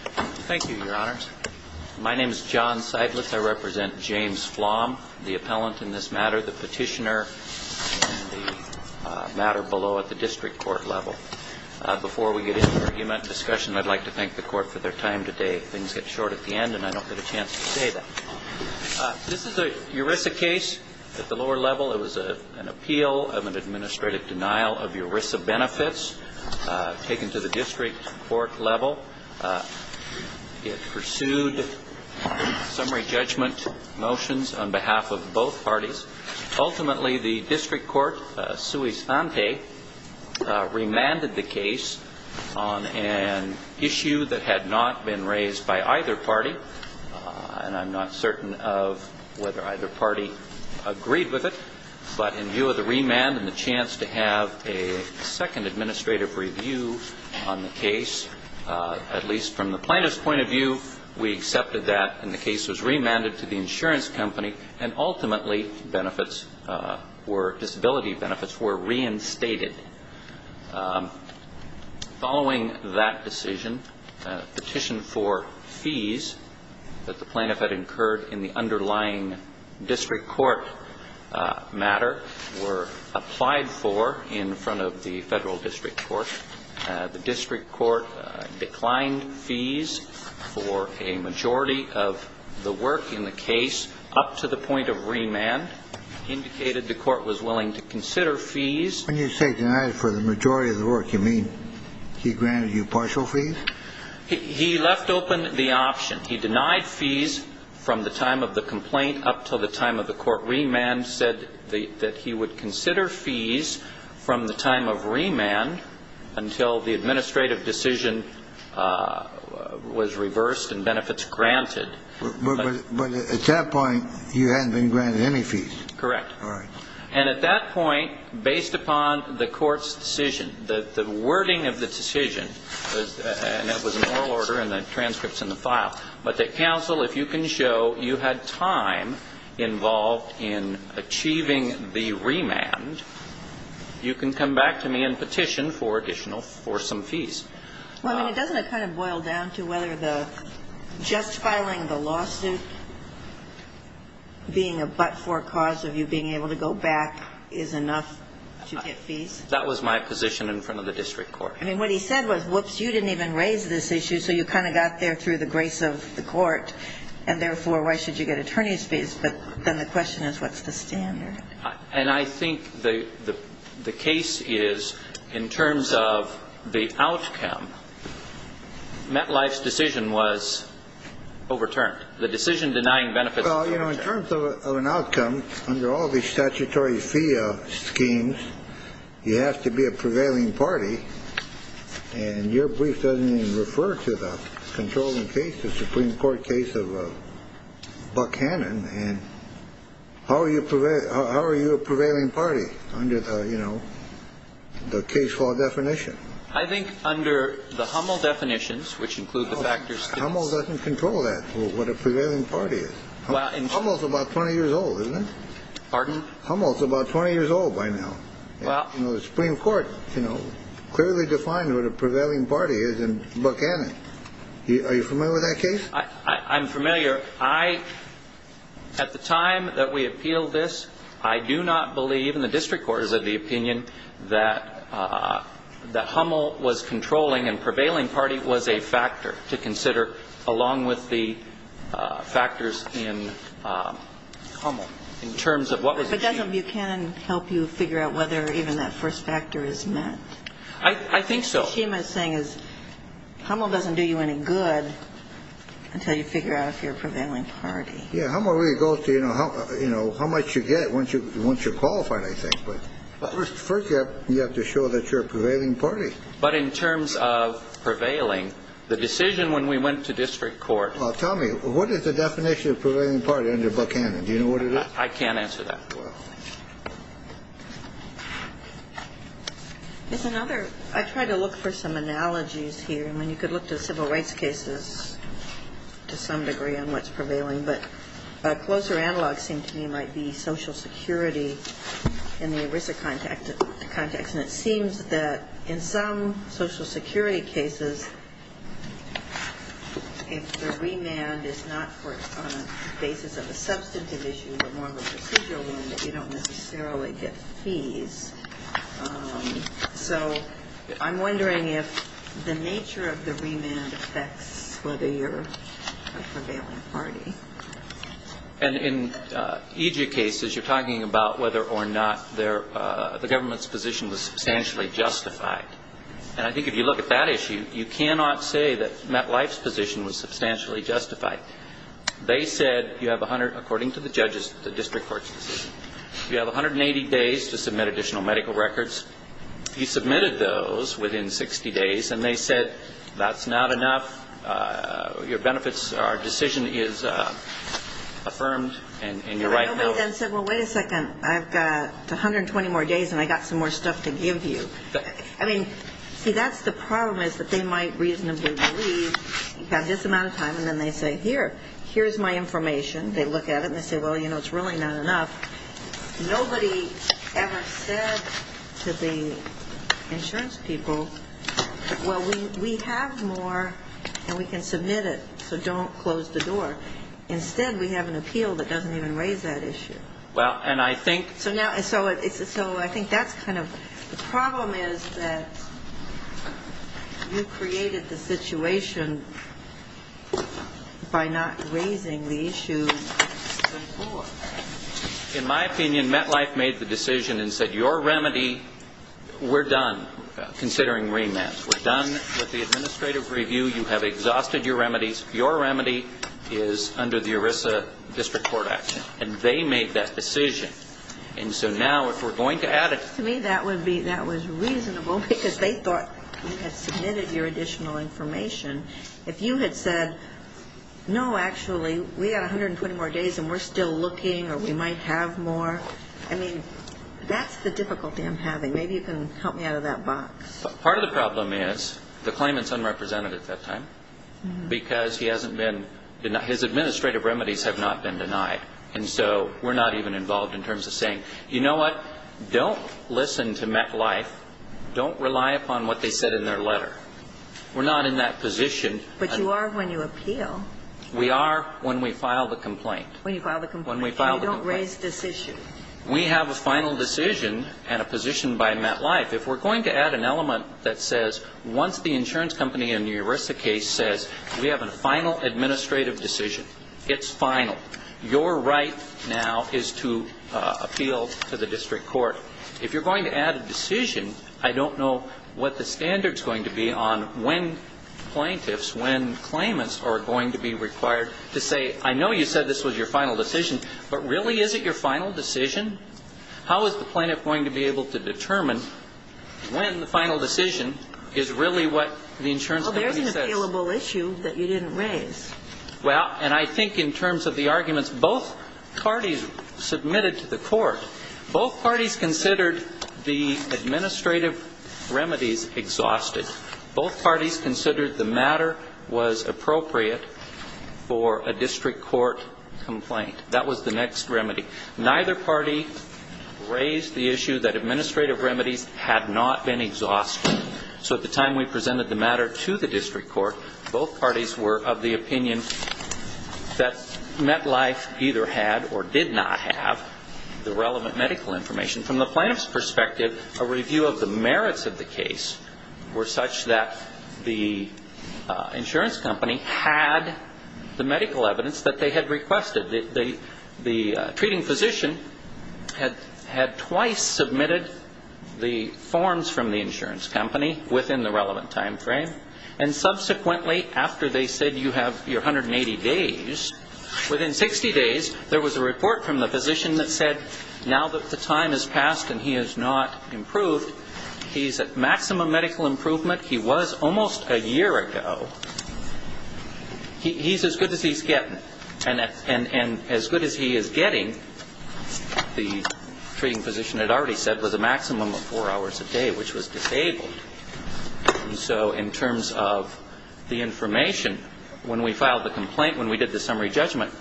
Thank you, Your Honors. My name is John Seidlitz. I represent James Flom, the appellant in this matter, the petitioner, and the matter below at the district court level. Before we get into argument and discussion, I'd like to thank the court for their time today. Things get short at the end and I don't get a chance to say that. This is a ERISA case at the lower level. It was an appeal of an administrative denial of ERISA benefits taken to the district court level. It pursued summary judgment motions on behalf of both parties. Ultimately, the district court, sui sante, remanded the case on an issue that had not been raised by either party. And I'm not certain of whether either party agreed with it. But in view of the remand and the chance to have a second administrative review on the case, at least from the plaintiff's point of view, we accepted that. And the case was remanded to the insurance company. And ultimately, disability benefits were reinstated. Following that decision, a petition for fees that the plaintiff had incurred in the underlying district court matter were applied for in front of the federal district court. The district court declined fees for a majority of the work in the case up to the point of remand, indicated the court was willing to consider fees. When you say denied for the majority of the work, you mean he granted you partial fees? He left open the option. He denied fees from the time of the complaint up to the time of the court remand, said that he would consider fees from the time of remand until the administrative decision was reversed and benefits granted. But at that point, you hadn't been granted any fees. Correct. All right. And at that point, based upon the court's decision, the wording of the decision, and that was in oral order and the transcripts in the file, but that counsel, if you can show you had time involved in achieving the remand, you can come back to me and petition for additional, for some fees. Well, I mean, doesn't it kind of boil down to whether the just filing the lawsuit being a but-for cause of you being able to go back is enough to get fees? That was my position in front of the district court. I mean, what he said was, whoops, you didn't even raise this issue, so you kind of got there through the grace of the court, and therefore, why should you get attorney's fees? But then the question is, what's the standard? And I think the case is, in terms of the outcome, MetLife's decision was overturned. The decision denying benefits was overturned. Well, you know, in terms of an outcome, under all these statutory fee schemes, you have to be a prevailing party, and your brief doesn't even refer to the controlling case, the Supreme Court case of Buck Hannon. How are you a prevailing party under the case law definition? I think under the Hummel definitions, which include the factors... Hummel doesn't control that, what a prevailing party is. Hummel's about 20 years old, isn't it? Pardon? Hummel's about 20 years old by now. Well... The Supreme Court clearly defined what a prevailing party is in Buck Hannon. Are you familiar with that case? I'm familiar. At the time that we appealed this, I do not believe, and the district court is of the opinion, that Hummel was controlling and prevailing party was a factor to consider, along with the factors in Hummel, in terms of what was achieved. But doesn't Buchanan help you figure out whether even that first factor is met? I think so. Hummel doesn't do you any good until you figure out if you're a prevailing party. Yeah. Hummel really goes to, you know, how much you get once you're qualified, I think. But first you have to show that you're a prevailing party. But in terms of prevailing, the decision when we went to district court... Tell me, what is the definition of prevailing party under Buck Hannon? Do you know what it is? I can't answer that. Well... There's another. I tried to look for some analogies here. I mean, you could look to civil rights cases to some degree on what's prevailing. But a closer analog, it seems to me, might be Social Security in the ERISA context. And it seems that in some Social Security cases, if the remand is not on the basis of a substantive issue, but more of a procedural one, that you don't necessarily get fees. So I'm wondering if the nature of the remand affects whether you're a prevailing party. And in EJ cases, you're talking about whether or not the government's position was substantially justified. And I think if you look at that issue, you cannot say that Matt Leif's position was substantially justified. They said you have 100, according to the judges, the district court's decision. You have 180 days to submit additional medical records. He submitted those within 60 days, and they said that's not enough. Your benefits, our decision is affirmed, and you're right. Nobody then said, well, wait a second, I've got 120 more days, and I've got some more stuff to give you. I mean, see, that's the problem, is that they might reasonably believe you've got this amount of time. And then they say, here, here's my information. They look at it, and they say, well, you know, it's really not enough. Nobody ever said to the insurance people, well, we have more, and we can submit it, so don't close the door. Instead, we have an appeal that doesn't even raise that issue. Well, and I think. So now, so I think that's kind of. The problem is that you created the situation by not raising the issue before. In my opinion, MetLife made the decision and said, your remedy, we're done considering remands. We're done with the administrative review. You have exhausted your remedies. Your remedy is under the ERISA district court action. And they made that decision. And so now, if we're going to add it. To me, that would be, that was reasonable, because they thought you had submitted your additional information. If you had said, no, actually, we've got 120 more days, and we're still looking, or we might have more. I mean, that's the difficulty I'm having. Maybe you can help me out of that box. Part of the problem is, the claimant's unrepresented at that time, because he hasn't been. His administrative remedies have not been denied. And so we're not even involved in terms of saying, you know what? Don't listen to MetLife. Don't rely upon what they said in their letter. We're not in that position. But you are when you appeal. We are when we file the complaint. When you file the complaint. When we file the complaint. You don't raise this issue. We have a final decision and a position by MetLife. If we're going to add an element that says, once the insurance company in your ERISA case says, we have a final administrative decision. It's final. Your right now is to appeal to the district court. If you're going to add a decision, I don't know what the standard's going to be on when plaintiffs, when claimants are going to be required to say, I know you said this was your final decision, but really, is it your final decision? How is the plaintiff going to be able to determine when the final decision is really what the insurance company says? Well, there's an appealable issue that you didn't raise. Well, and I think in terms of the arguments both parties submitted to the court, both parties considered the administrative remedies exhausted. Both parties considered the matter was appropriate for a district court complaint. That was the next remedy. Neither party raised the issue that administrative remedies had not been exhausted. So at the time we presented the matter to the district court, both parties were of the opinion that MetLife either had or did not have the relevant medical information. From the plaintiff's perspective, a review of the merits of the case were such that the insurance company had the medical evidence that they had requested. The treating physician had twice submitted the forms from the insurance company within the relevant time frame. And subsequently, after they said you have your 180 days, within 60 days, there was a report from the physician that said, now that the time has passed and he has not improved, he's at maximum medical improvement. He was almost a year ago. He's as good as he's getting. And as good as he is getting, the treating physician had already said, was a maximum of four hours a day, which was disabled. And so in terms of the information, when we filed the complaint, when we did the summary judgment,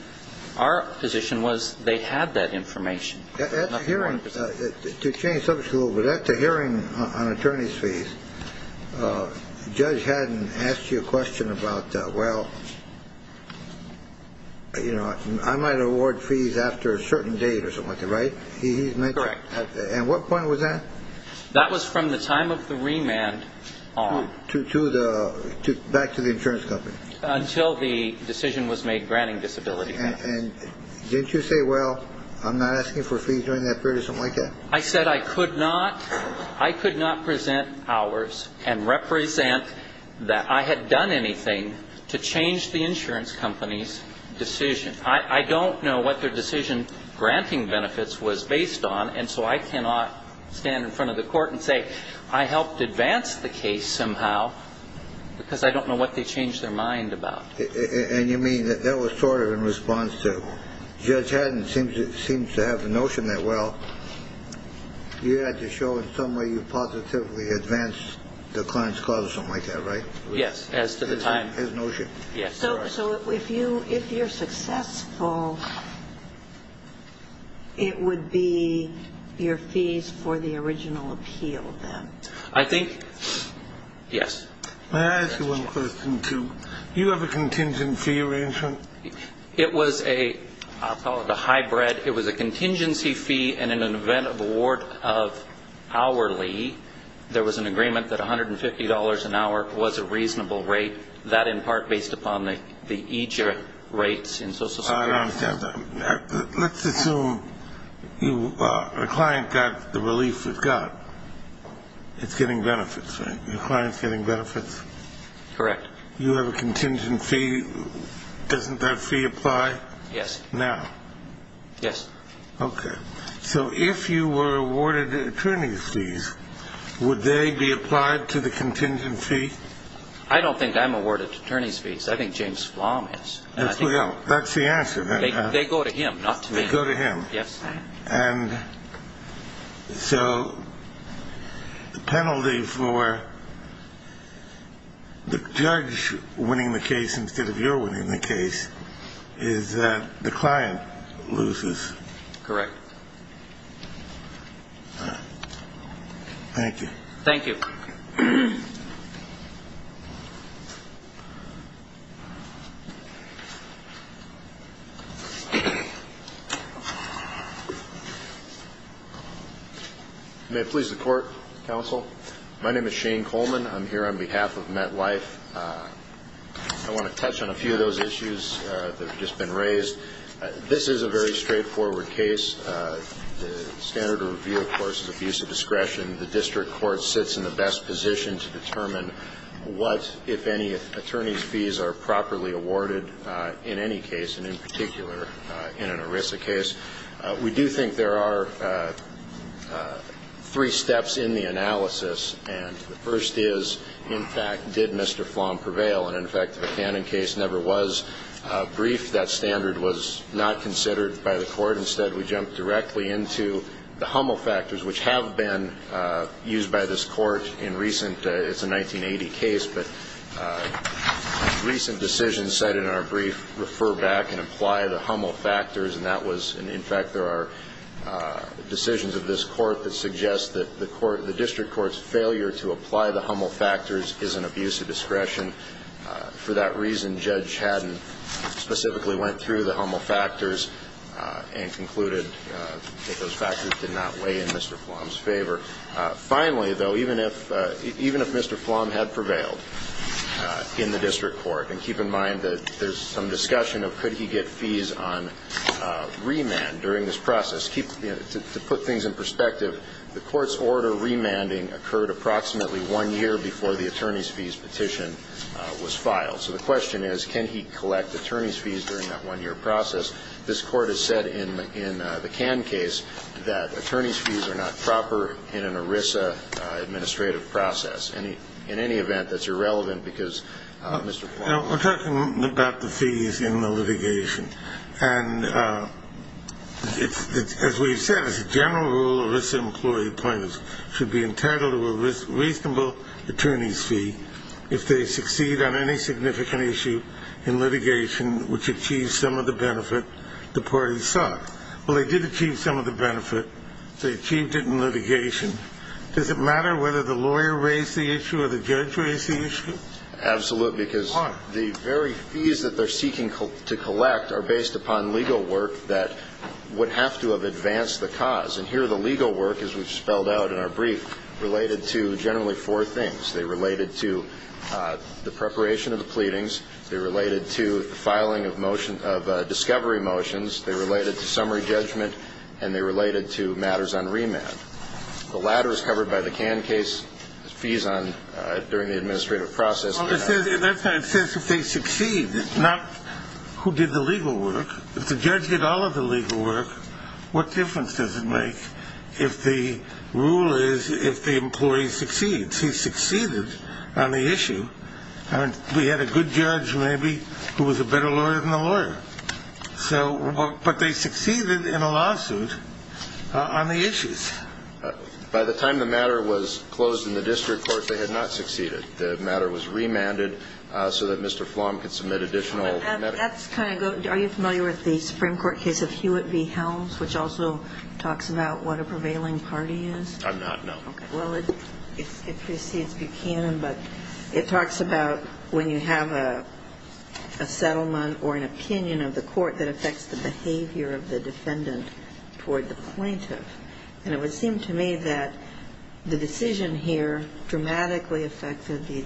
our position was they had that information. To change subjects a little bit, at the hearing on attorney's fees, the judge hadn't asked you a question about that. Well, you know, I might award fees after a certain date or something like that, right? Correct. And what point was that? That was from the time of the remand on. Back to the insurance company. Until the decision was made granting disability. And didn't you say, well, I'm not asking for fees during that period or something like that? I said I could not present hours and represent that I had done anything to change the insurance company's decision. I don't know what their decision granting benefits was based on, and so I cannot stand in front of the court and say, I helped advance the case somehow because I don't know what they changed their mind about. And you mean that that was sort of in response to? Judge Haddon seems to have the notion that, well, you had to show in some way you positively advanced the client's cause or something like that, right? Yes, as to the time. His notion. So if you're successful, it would be your fees for the original appeal, then? I think, yes. May I ask you one question, too? Do you have a contingency fee arrangement? It was a, I'll call it a hybrid. It was a contingency fee, and in an event of award of hourly, there was an agreement that $150 an hour was a reasonable rate, that in part based upon the EJR rates in social security. I don't understand that. Let's assume a client got the relief it got. It's getting benefits, right? Your client's getting benefits? Correct. You have a contingency. Doesn't that fee apply? Yes. Now? Yes. Okay. So if you were awarded attorney's fees, would they be applied to the contingency? I don't think I'm awarded attorney's fees. I think James Flom is. That's the answer. They go to him, not to me. They go to him. Yes. And so the penalty for the judge winning the case instead of your winning the case is that the client loses. Correct. Thank you. Thank you. May it please the Court, Counsel? My name is Shane Coleman. I'm here on behalf of MetLife. I want to touch on a few of those issues that have just been raised. This is a very straightforward case. The standard of review, of course, is abuse of discretion. The district court sits in the best position to determine what, if any, attorney's fees are properly awarded in any case, and in particular in an ERISA case. We do think there are three steps in the analysis. And the first is, in fact, did Mr. Flom prevail? And, in fact, the Buchanan case never was briefed. That standard was not considered by the court. Instead, we jumped directly into the HUML factors, which have been used by this court in recent ‑‑ it's a 1980 case, but recent decisions cited in our brief refer back and apply the HUML factors, and, in fact, there are decisions of this court that suggest that the district court's failure to apply the HUML factors is an abuse of discretion. For that reason, Judge Haddon specifically went through the HUML factors and concluded that those factors did not weigh in Mr. Flom's favor. Finally, though, even if Mr. Flom had prevailed in the district court, there's some discussion of could he get fees on remand during this process. To put things in perspective, the court's order remanding occurred approximately one year before the attorney's fees petition was filed. So the question is, can he collect attorney's fees during that one-year process? This court has said in the Cannes case that attorney's fees are not proper in an ERISA administrative process. In any event, that's irrelevant because Mr. Flom ‑‑ We're talking about the fees in the litigation. And as we've said, as a general rule, ERISA employee appointments should be entitled to a reasonable attorney's fee if they succeed on any significant issue in litigation which achieves some of the benefit the parties sought. Well, they did achieve some of the benefit. They achieved it in litigation. Does it matter whether the lawyer raised the issue or the judge raised the issue? Absolutely. Why? Because the very fees that they're seeking to collect are based upon legal work that would have to have advanced the cause. And here the legal work, as we've spelled out in our brief, related to generally four things. They related to the preparation of the pleadings. They related to the filing of discovery motions. They related to summary judgment. And they related to matters on remand. The latter is covered by the Cannes case. Fees on ‑‑ during the administrative process. Well, it says if they succeed, not who did the legal work. If the judge did all of the legal work, what difference does it make if the rule is if the employee succeeds? He succeeded on the issue. And we had a good judge maybe who was a better lawyer than the lawyer. But they succeeded in a lawsuit on the issues. By the time the matter was closed in the district court, they had not succeeded. The matter was remanded so that Mr. Flom could submit additional matters. Are you familiar with the Supreme Court case of Hewitt v. Helms, which also talks about what a prevailing party is? I'm not, no. Okay, well, it precedes Buchanan, but it talks about when you have a settlement or an opinion of the court that affects the behavior of the defendant toward the plaintiff. And it would seem to me that the decision here dramatically affected the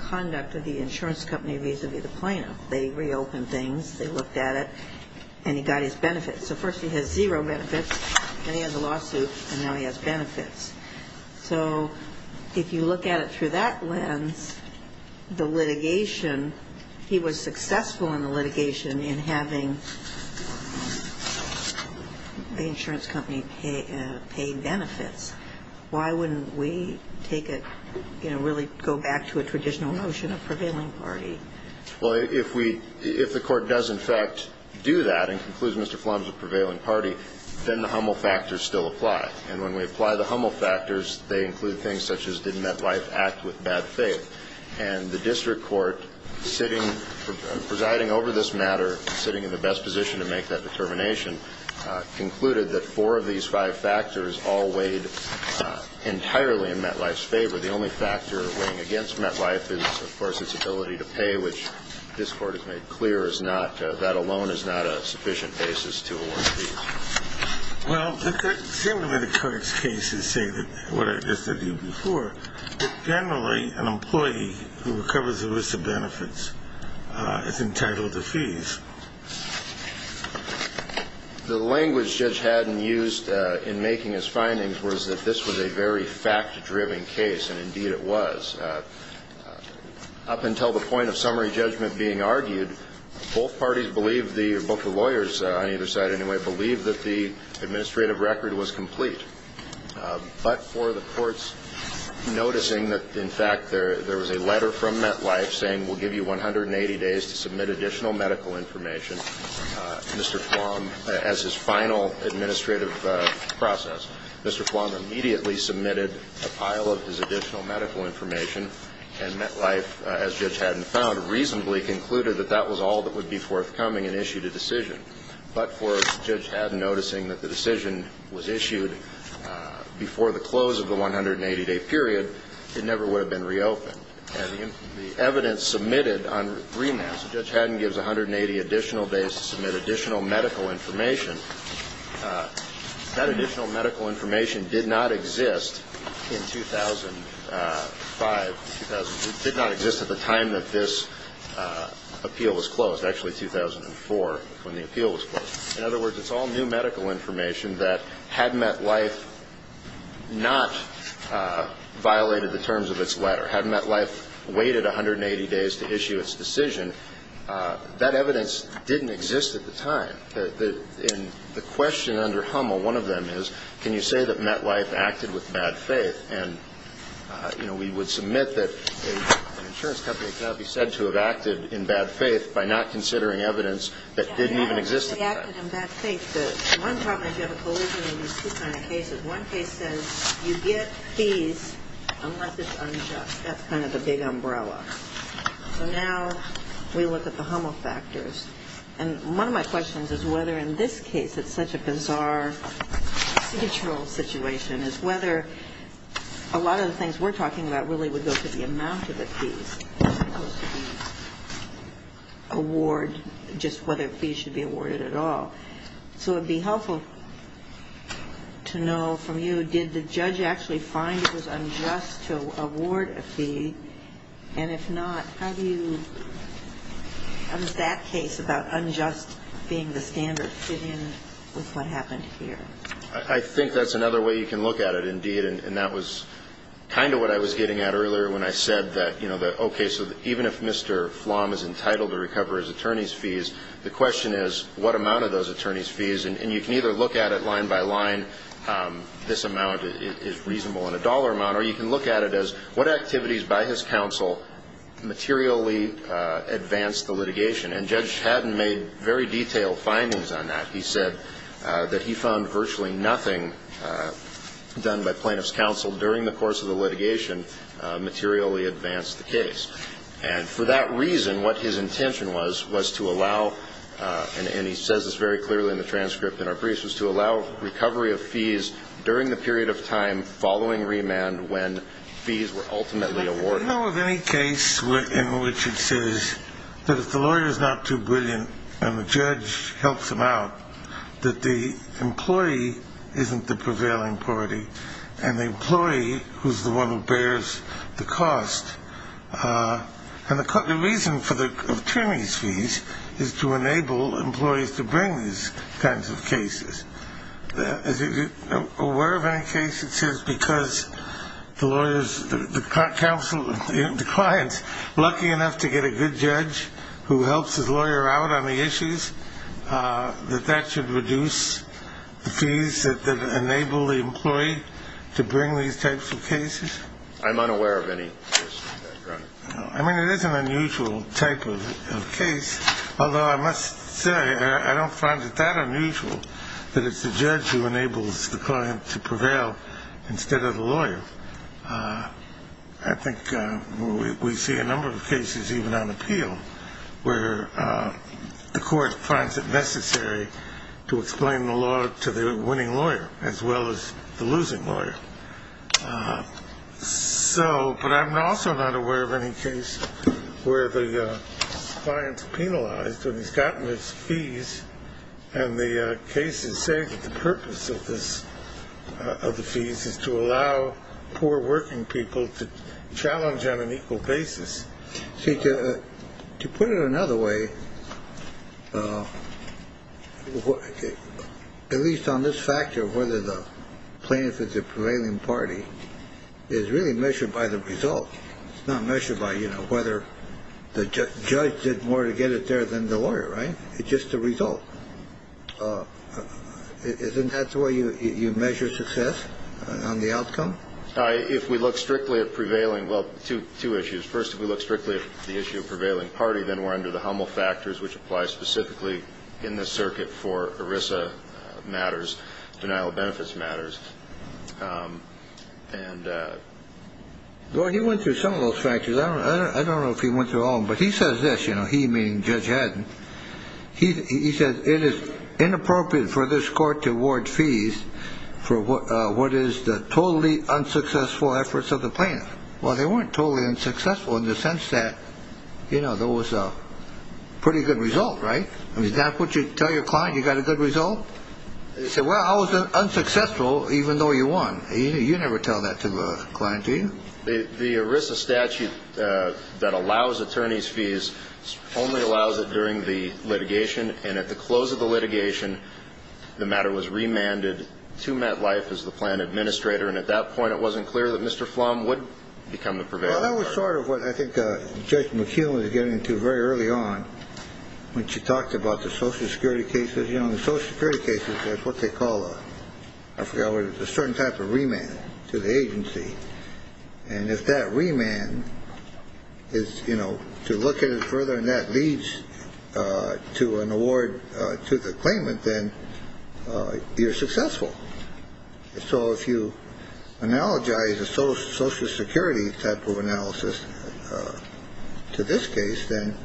conduct of the insurance company vis‑a‑vis the plaintiff. They reopened things, they looked at it, and he got his benefits. So first he has zero benefits, then he has a lawsuit, and now he has benefits. So if you look at it through that lens, the litigation, he was successful in the litigation in having the insurance company pay benefits. Why wouldn't we take it, you know, really go back to a traditional notion of prevailing party? Well, if we ‑‑ if the court does, in fact, do that and concludes Mr. Flom is a prevailing party, then the Hummel factors still apply. And when we apply the Hummel factors, they include things such as did MetLife act with bad faith. And the district court sitting ‑‑ presiding over this matter, sitting in the best position to make that determination, concluded that four of these five factors all weighed entirely in MetLife's favor. The only factor weighing against MetLife is, of course, its ability to pay, which this court has made clear is not ‑‑ that alone is not a sufficient basis to award fees. Well, the same way the current cases say what I said to you before, generally an employee who recovers the risk of benefits is entitled to fees. The language Judge Haddon used in making his findings was that this was a very fact‑driven case, and, indeed, it was. Up until the point of summary judgment being argued, both parties believed the ‑‑ or both the lawyers on either side, anyway, believed that the administrative record was complete. But for the courts noticing that, in fact, there was a letter from MetLife saying we'll give you 180 days to submit additional medical information, Mr. Flom, as his final administrative process, Mr. Flom immediately submitted a pile of his additional medical information, and MetLife, as Judge Haddon found, reasonably concluded that that was all that would be forthcoming and issued a decision. But for Judge Haddon noticing that the decision was issued before the close of the 180‑day period, it never would have been reopened. And the evidence submitted on remand, so Judge Haddon gives 180 additional days to submit additional medical information, that additional medical information did not exist in 2005. It did not exist at the time that this appeal was closed. Actually, 2004, when the appeal was closed. In other words, it's all new medical information that had MetLife not violated the terms of its letter, had MetLife waited 180 days to issue its decision, that evidence didn't exist at the time. And the question under HUML, one of them is, can you say that MetLife acted with bad faith? And, you know, we would submit that an insurance company cannot be said to have acted in bad faith by not considering evidence that didn't even exist at the time. They acted in bad faith. One problem is you have a collision of these two kinds of cases. One case says you get fees unless it's unjust. That's kind of the big umbrella. So now we look at the HUML factors. And one of my questions is whether, in this case, it's such a bizarre situational situation, is whether a lot of the things we're talking about really would go to the amount of the fees, as opposed to the award, just whether fees should be awarded at all. So it would be helpful to know from you, did the judge actually find it was unjust to award a fee? And if not, how do you, how does that case about unjust being the standard fit in with what happened here? I think that's another way you can look at it, indeed. And that was kind of what I was getting at earlier when I said that, you know, okay, so even if Mr. Flom is entitled to recover his attorney's fees, the question is what amount of those attorney's fees. And you can either look at it line by line, this amount is reasonable in a dollar amount, or you can look at it as what activities by his counsel materially advanced the litigation. And Judge Haddon made very detailed findings on that. He said that he found virtually nothing done by plaintiff's counsel during the course of the litigation materially advanced the case. And for that reason, what his intention was, was to allow, and he says this very clearly in the transcript in our briefs, was to allow recovery of fees during the period of time following remand when fees were ultimately awarded. Do you know of any case in which it says that if the lawyer is not too brilliant and the judge helps him out, that the employee isn't the prevailing party, and the employee who's the one who bears the cost, and the reason for the attorney's fees is to enable employees to bring these kinds of cases. Is he aware of any case that says because the lawyer's counsel, the client's lucky enough to get a good judge who helps his lawyer out on the issues, that that should reduce the fees that enable the employee to bring these types of cases? I'm unaware of any case like that, Your Honor. I mean, it is an unusual type of case, although I must say I don't find it that unusual that it's the judge who enables the client to prevail instead of the lawyer. I think we see a number of cases, even on appeal, where the court finds it necessary to explain the law to the winning lawyer as well as the losing lawyer. But I'm also not aware of any case where the client's penalized and he's gotten his fees, and the case is saying that the purpose of the fees is to allow poor working people to challenge on an equal basis. To put it another way, at least on this factor, whether the plaintiff is a prevailing party is really measured by the result. It's not measured by whether the judge did more to get it there than the lawyer, right? It's just the result. Isn't that the way you measure success on the outcome? If we look strictly at prevailing, well, two issues. First, if we look strictly at the issue of prevailing party, then we're under the Hummel factors, which apply specifically in this circuit for ERISA matters, denial of benefits matters. Well, he went through some of those factors. I don't know if he went through all of them, but he says this, you know, he meaning Judge Haddon. He says it is inappropriate for this court to award fees for what is the totally unsuccessful efforts of the plaintiff. Well, they weren't totally unsuccessful in the sense that, you know, there was a pretty good result, right? I mean, is that what you tell your client you got a good result? They say, well, I was unsuccessful even though you won. You never tell that to the client, do you? The ERISA statute that allows attorney's fees only allows it during the litigation. And at the close of the litigation, the matter was remanded to MetLife as the plan administrator. And at that point, it wasn't clear that Mr. Flom would become the prevailing party. Well, that was sort of what I think Judge McEwen was getting to very early on when she talked about the social security cases. You know, the social security cases, that's what they call a certain type of remand to the agency. And if that remand is, you know, to look at it further and that leads to an award to the claimant, then you're successful. So if you analogize a social security type of analysis to this case, then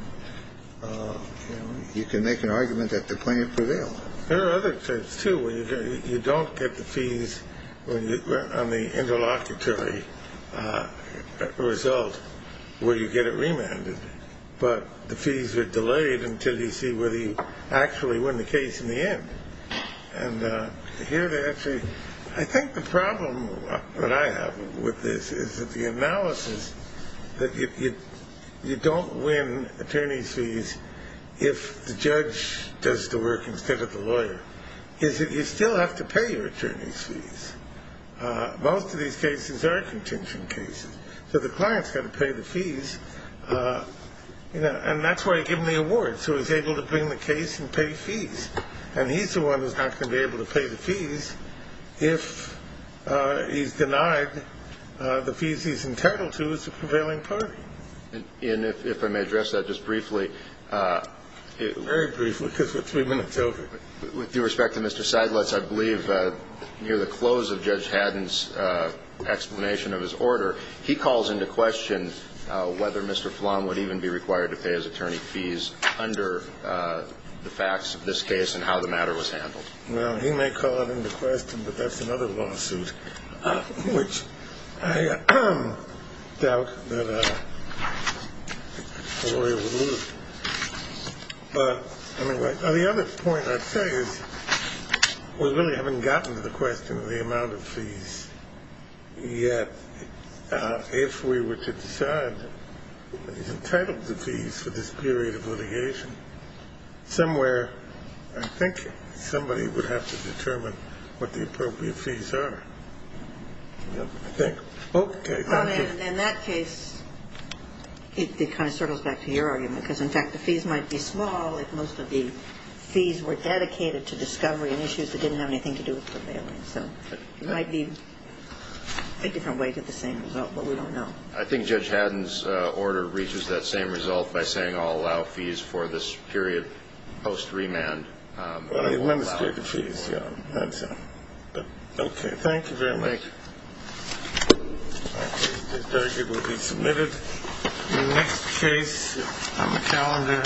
you can make an argument that the claimant prevailed. There are other cases, too, where you don't get the fees on the interlocutory result where you get it remanded, but the fees are delayed until you see whether you actually win the case in the end. And here they actually – I think the problem that I have with this is that the analysis that you don't win attorney's fees if the judge does the work instead of the lawyer is that you still have to pay your attorney's fees. Most of these cases are contention cases. So the client's got to pay the fees, you know, and that's why he's given the award. So he's able to bring the case and pay fees. And he's the one who's not going to be able to pay the fees if he's denied the fees he's entitled to as a prevailing party. And if I may address that just briefly. Very briefly because we're three minutes over. With due respect to Mr. Seidlitz, I believe near the close of Judge Haddon's explanation of his order, he calls into question whether Mr. Flom would even be required to pay his attorney fees under the facts of this case and how the matter was handled. Well, he may call it into question, but that's another lawsuit which I doubt that a lawyer would lose. But the other point I'd say is we really haven't gotten to the question of the amount of fees yet. If we were to decide he's entitled to fees for this period of litigation somewhere, I think somebody would have to determine what the appropriate fees are. In that case, it kind of circles back to your argument because, in fact, the fees might be small if most of the fees were dedicated to discovery and issues that didn't have anything to do with prevailing. So it might be a different way to the same result, but we don't know. I think Judge Haddon's order reaches that same result by saying I'll allow fees for this period post-remand. Well, he limits the amount of fees. Okay, thank you very much. This verdict will be submitted in the next case on the calendar.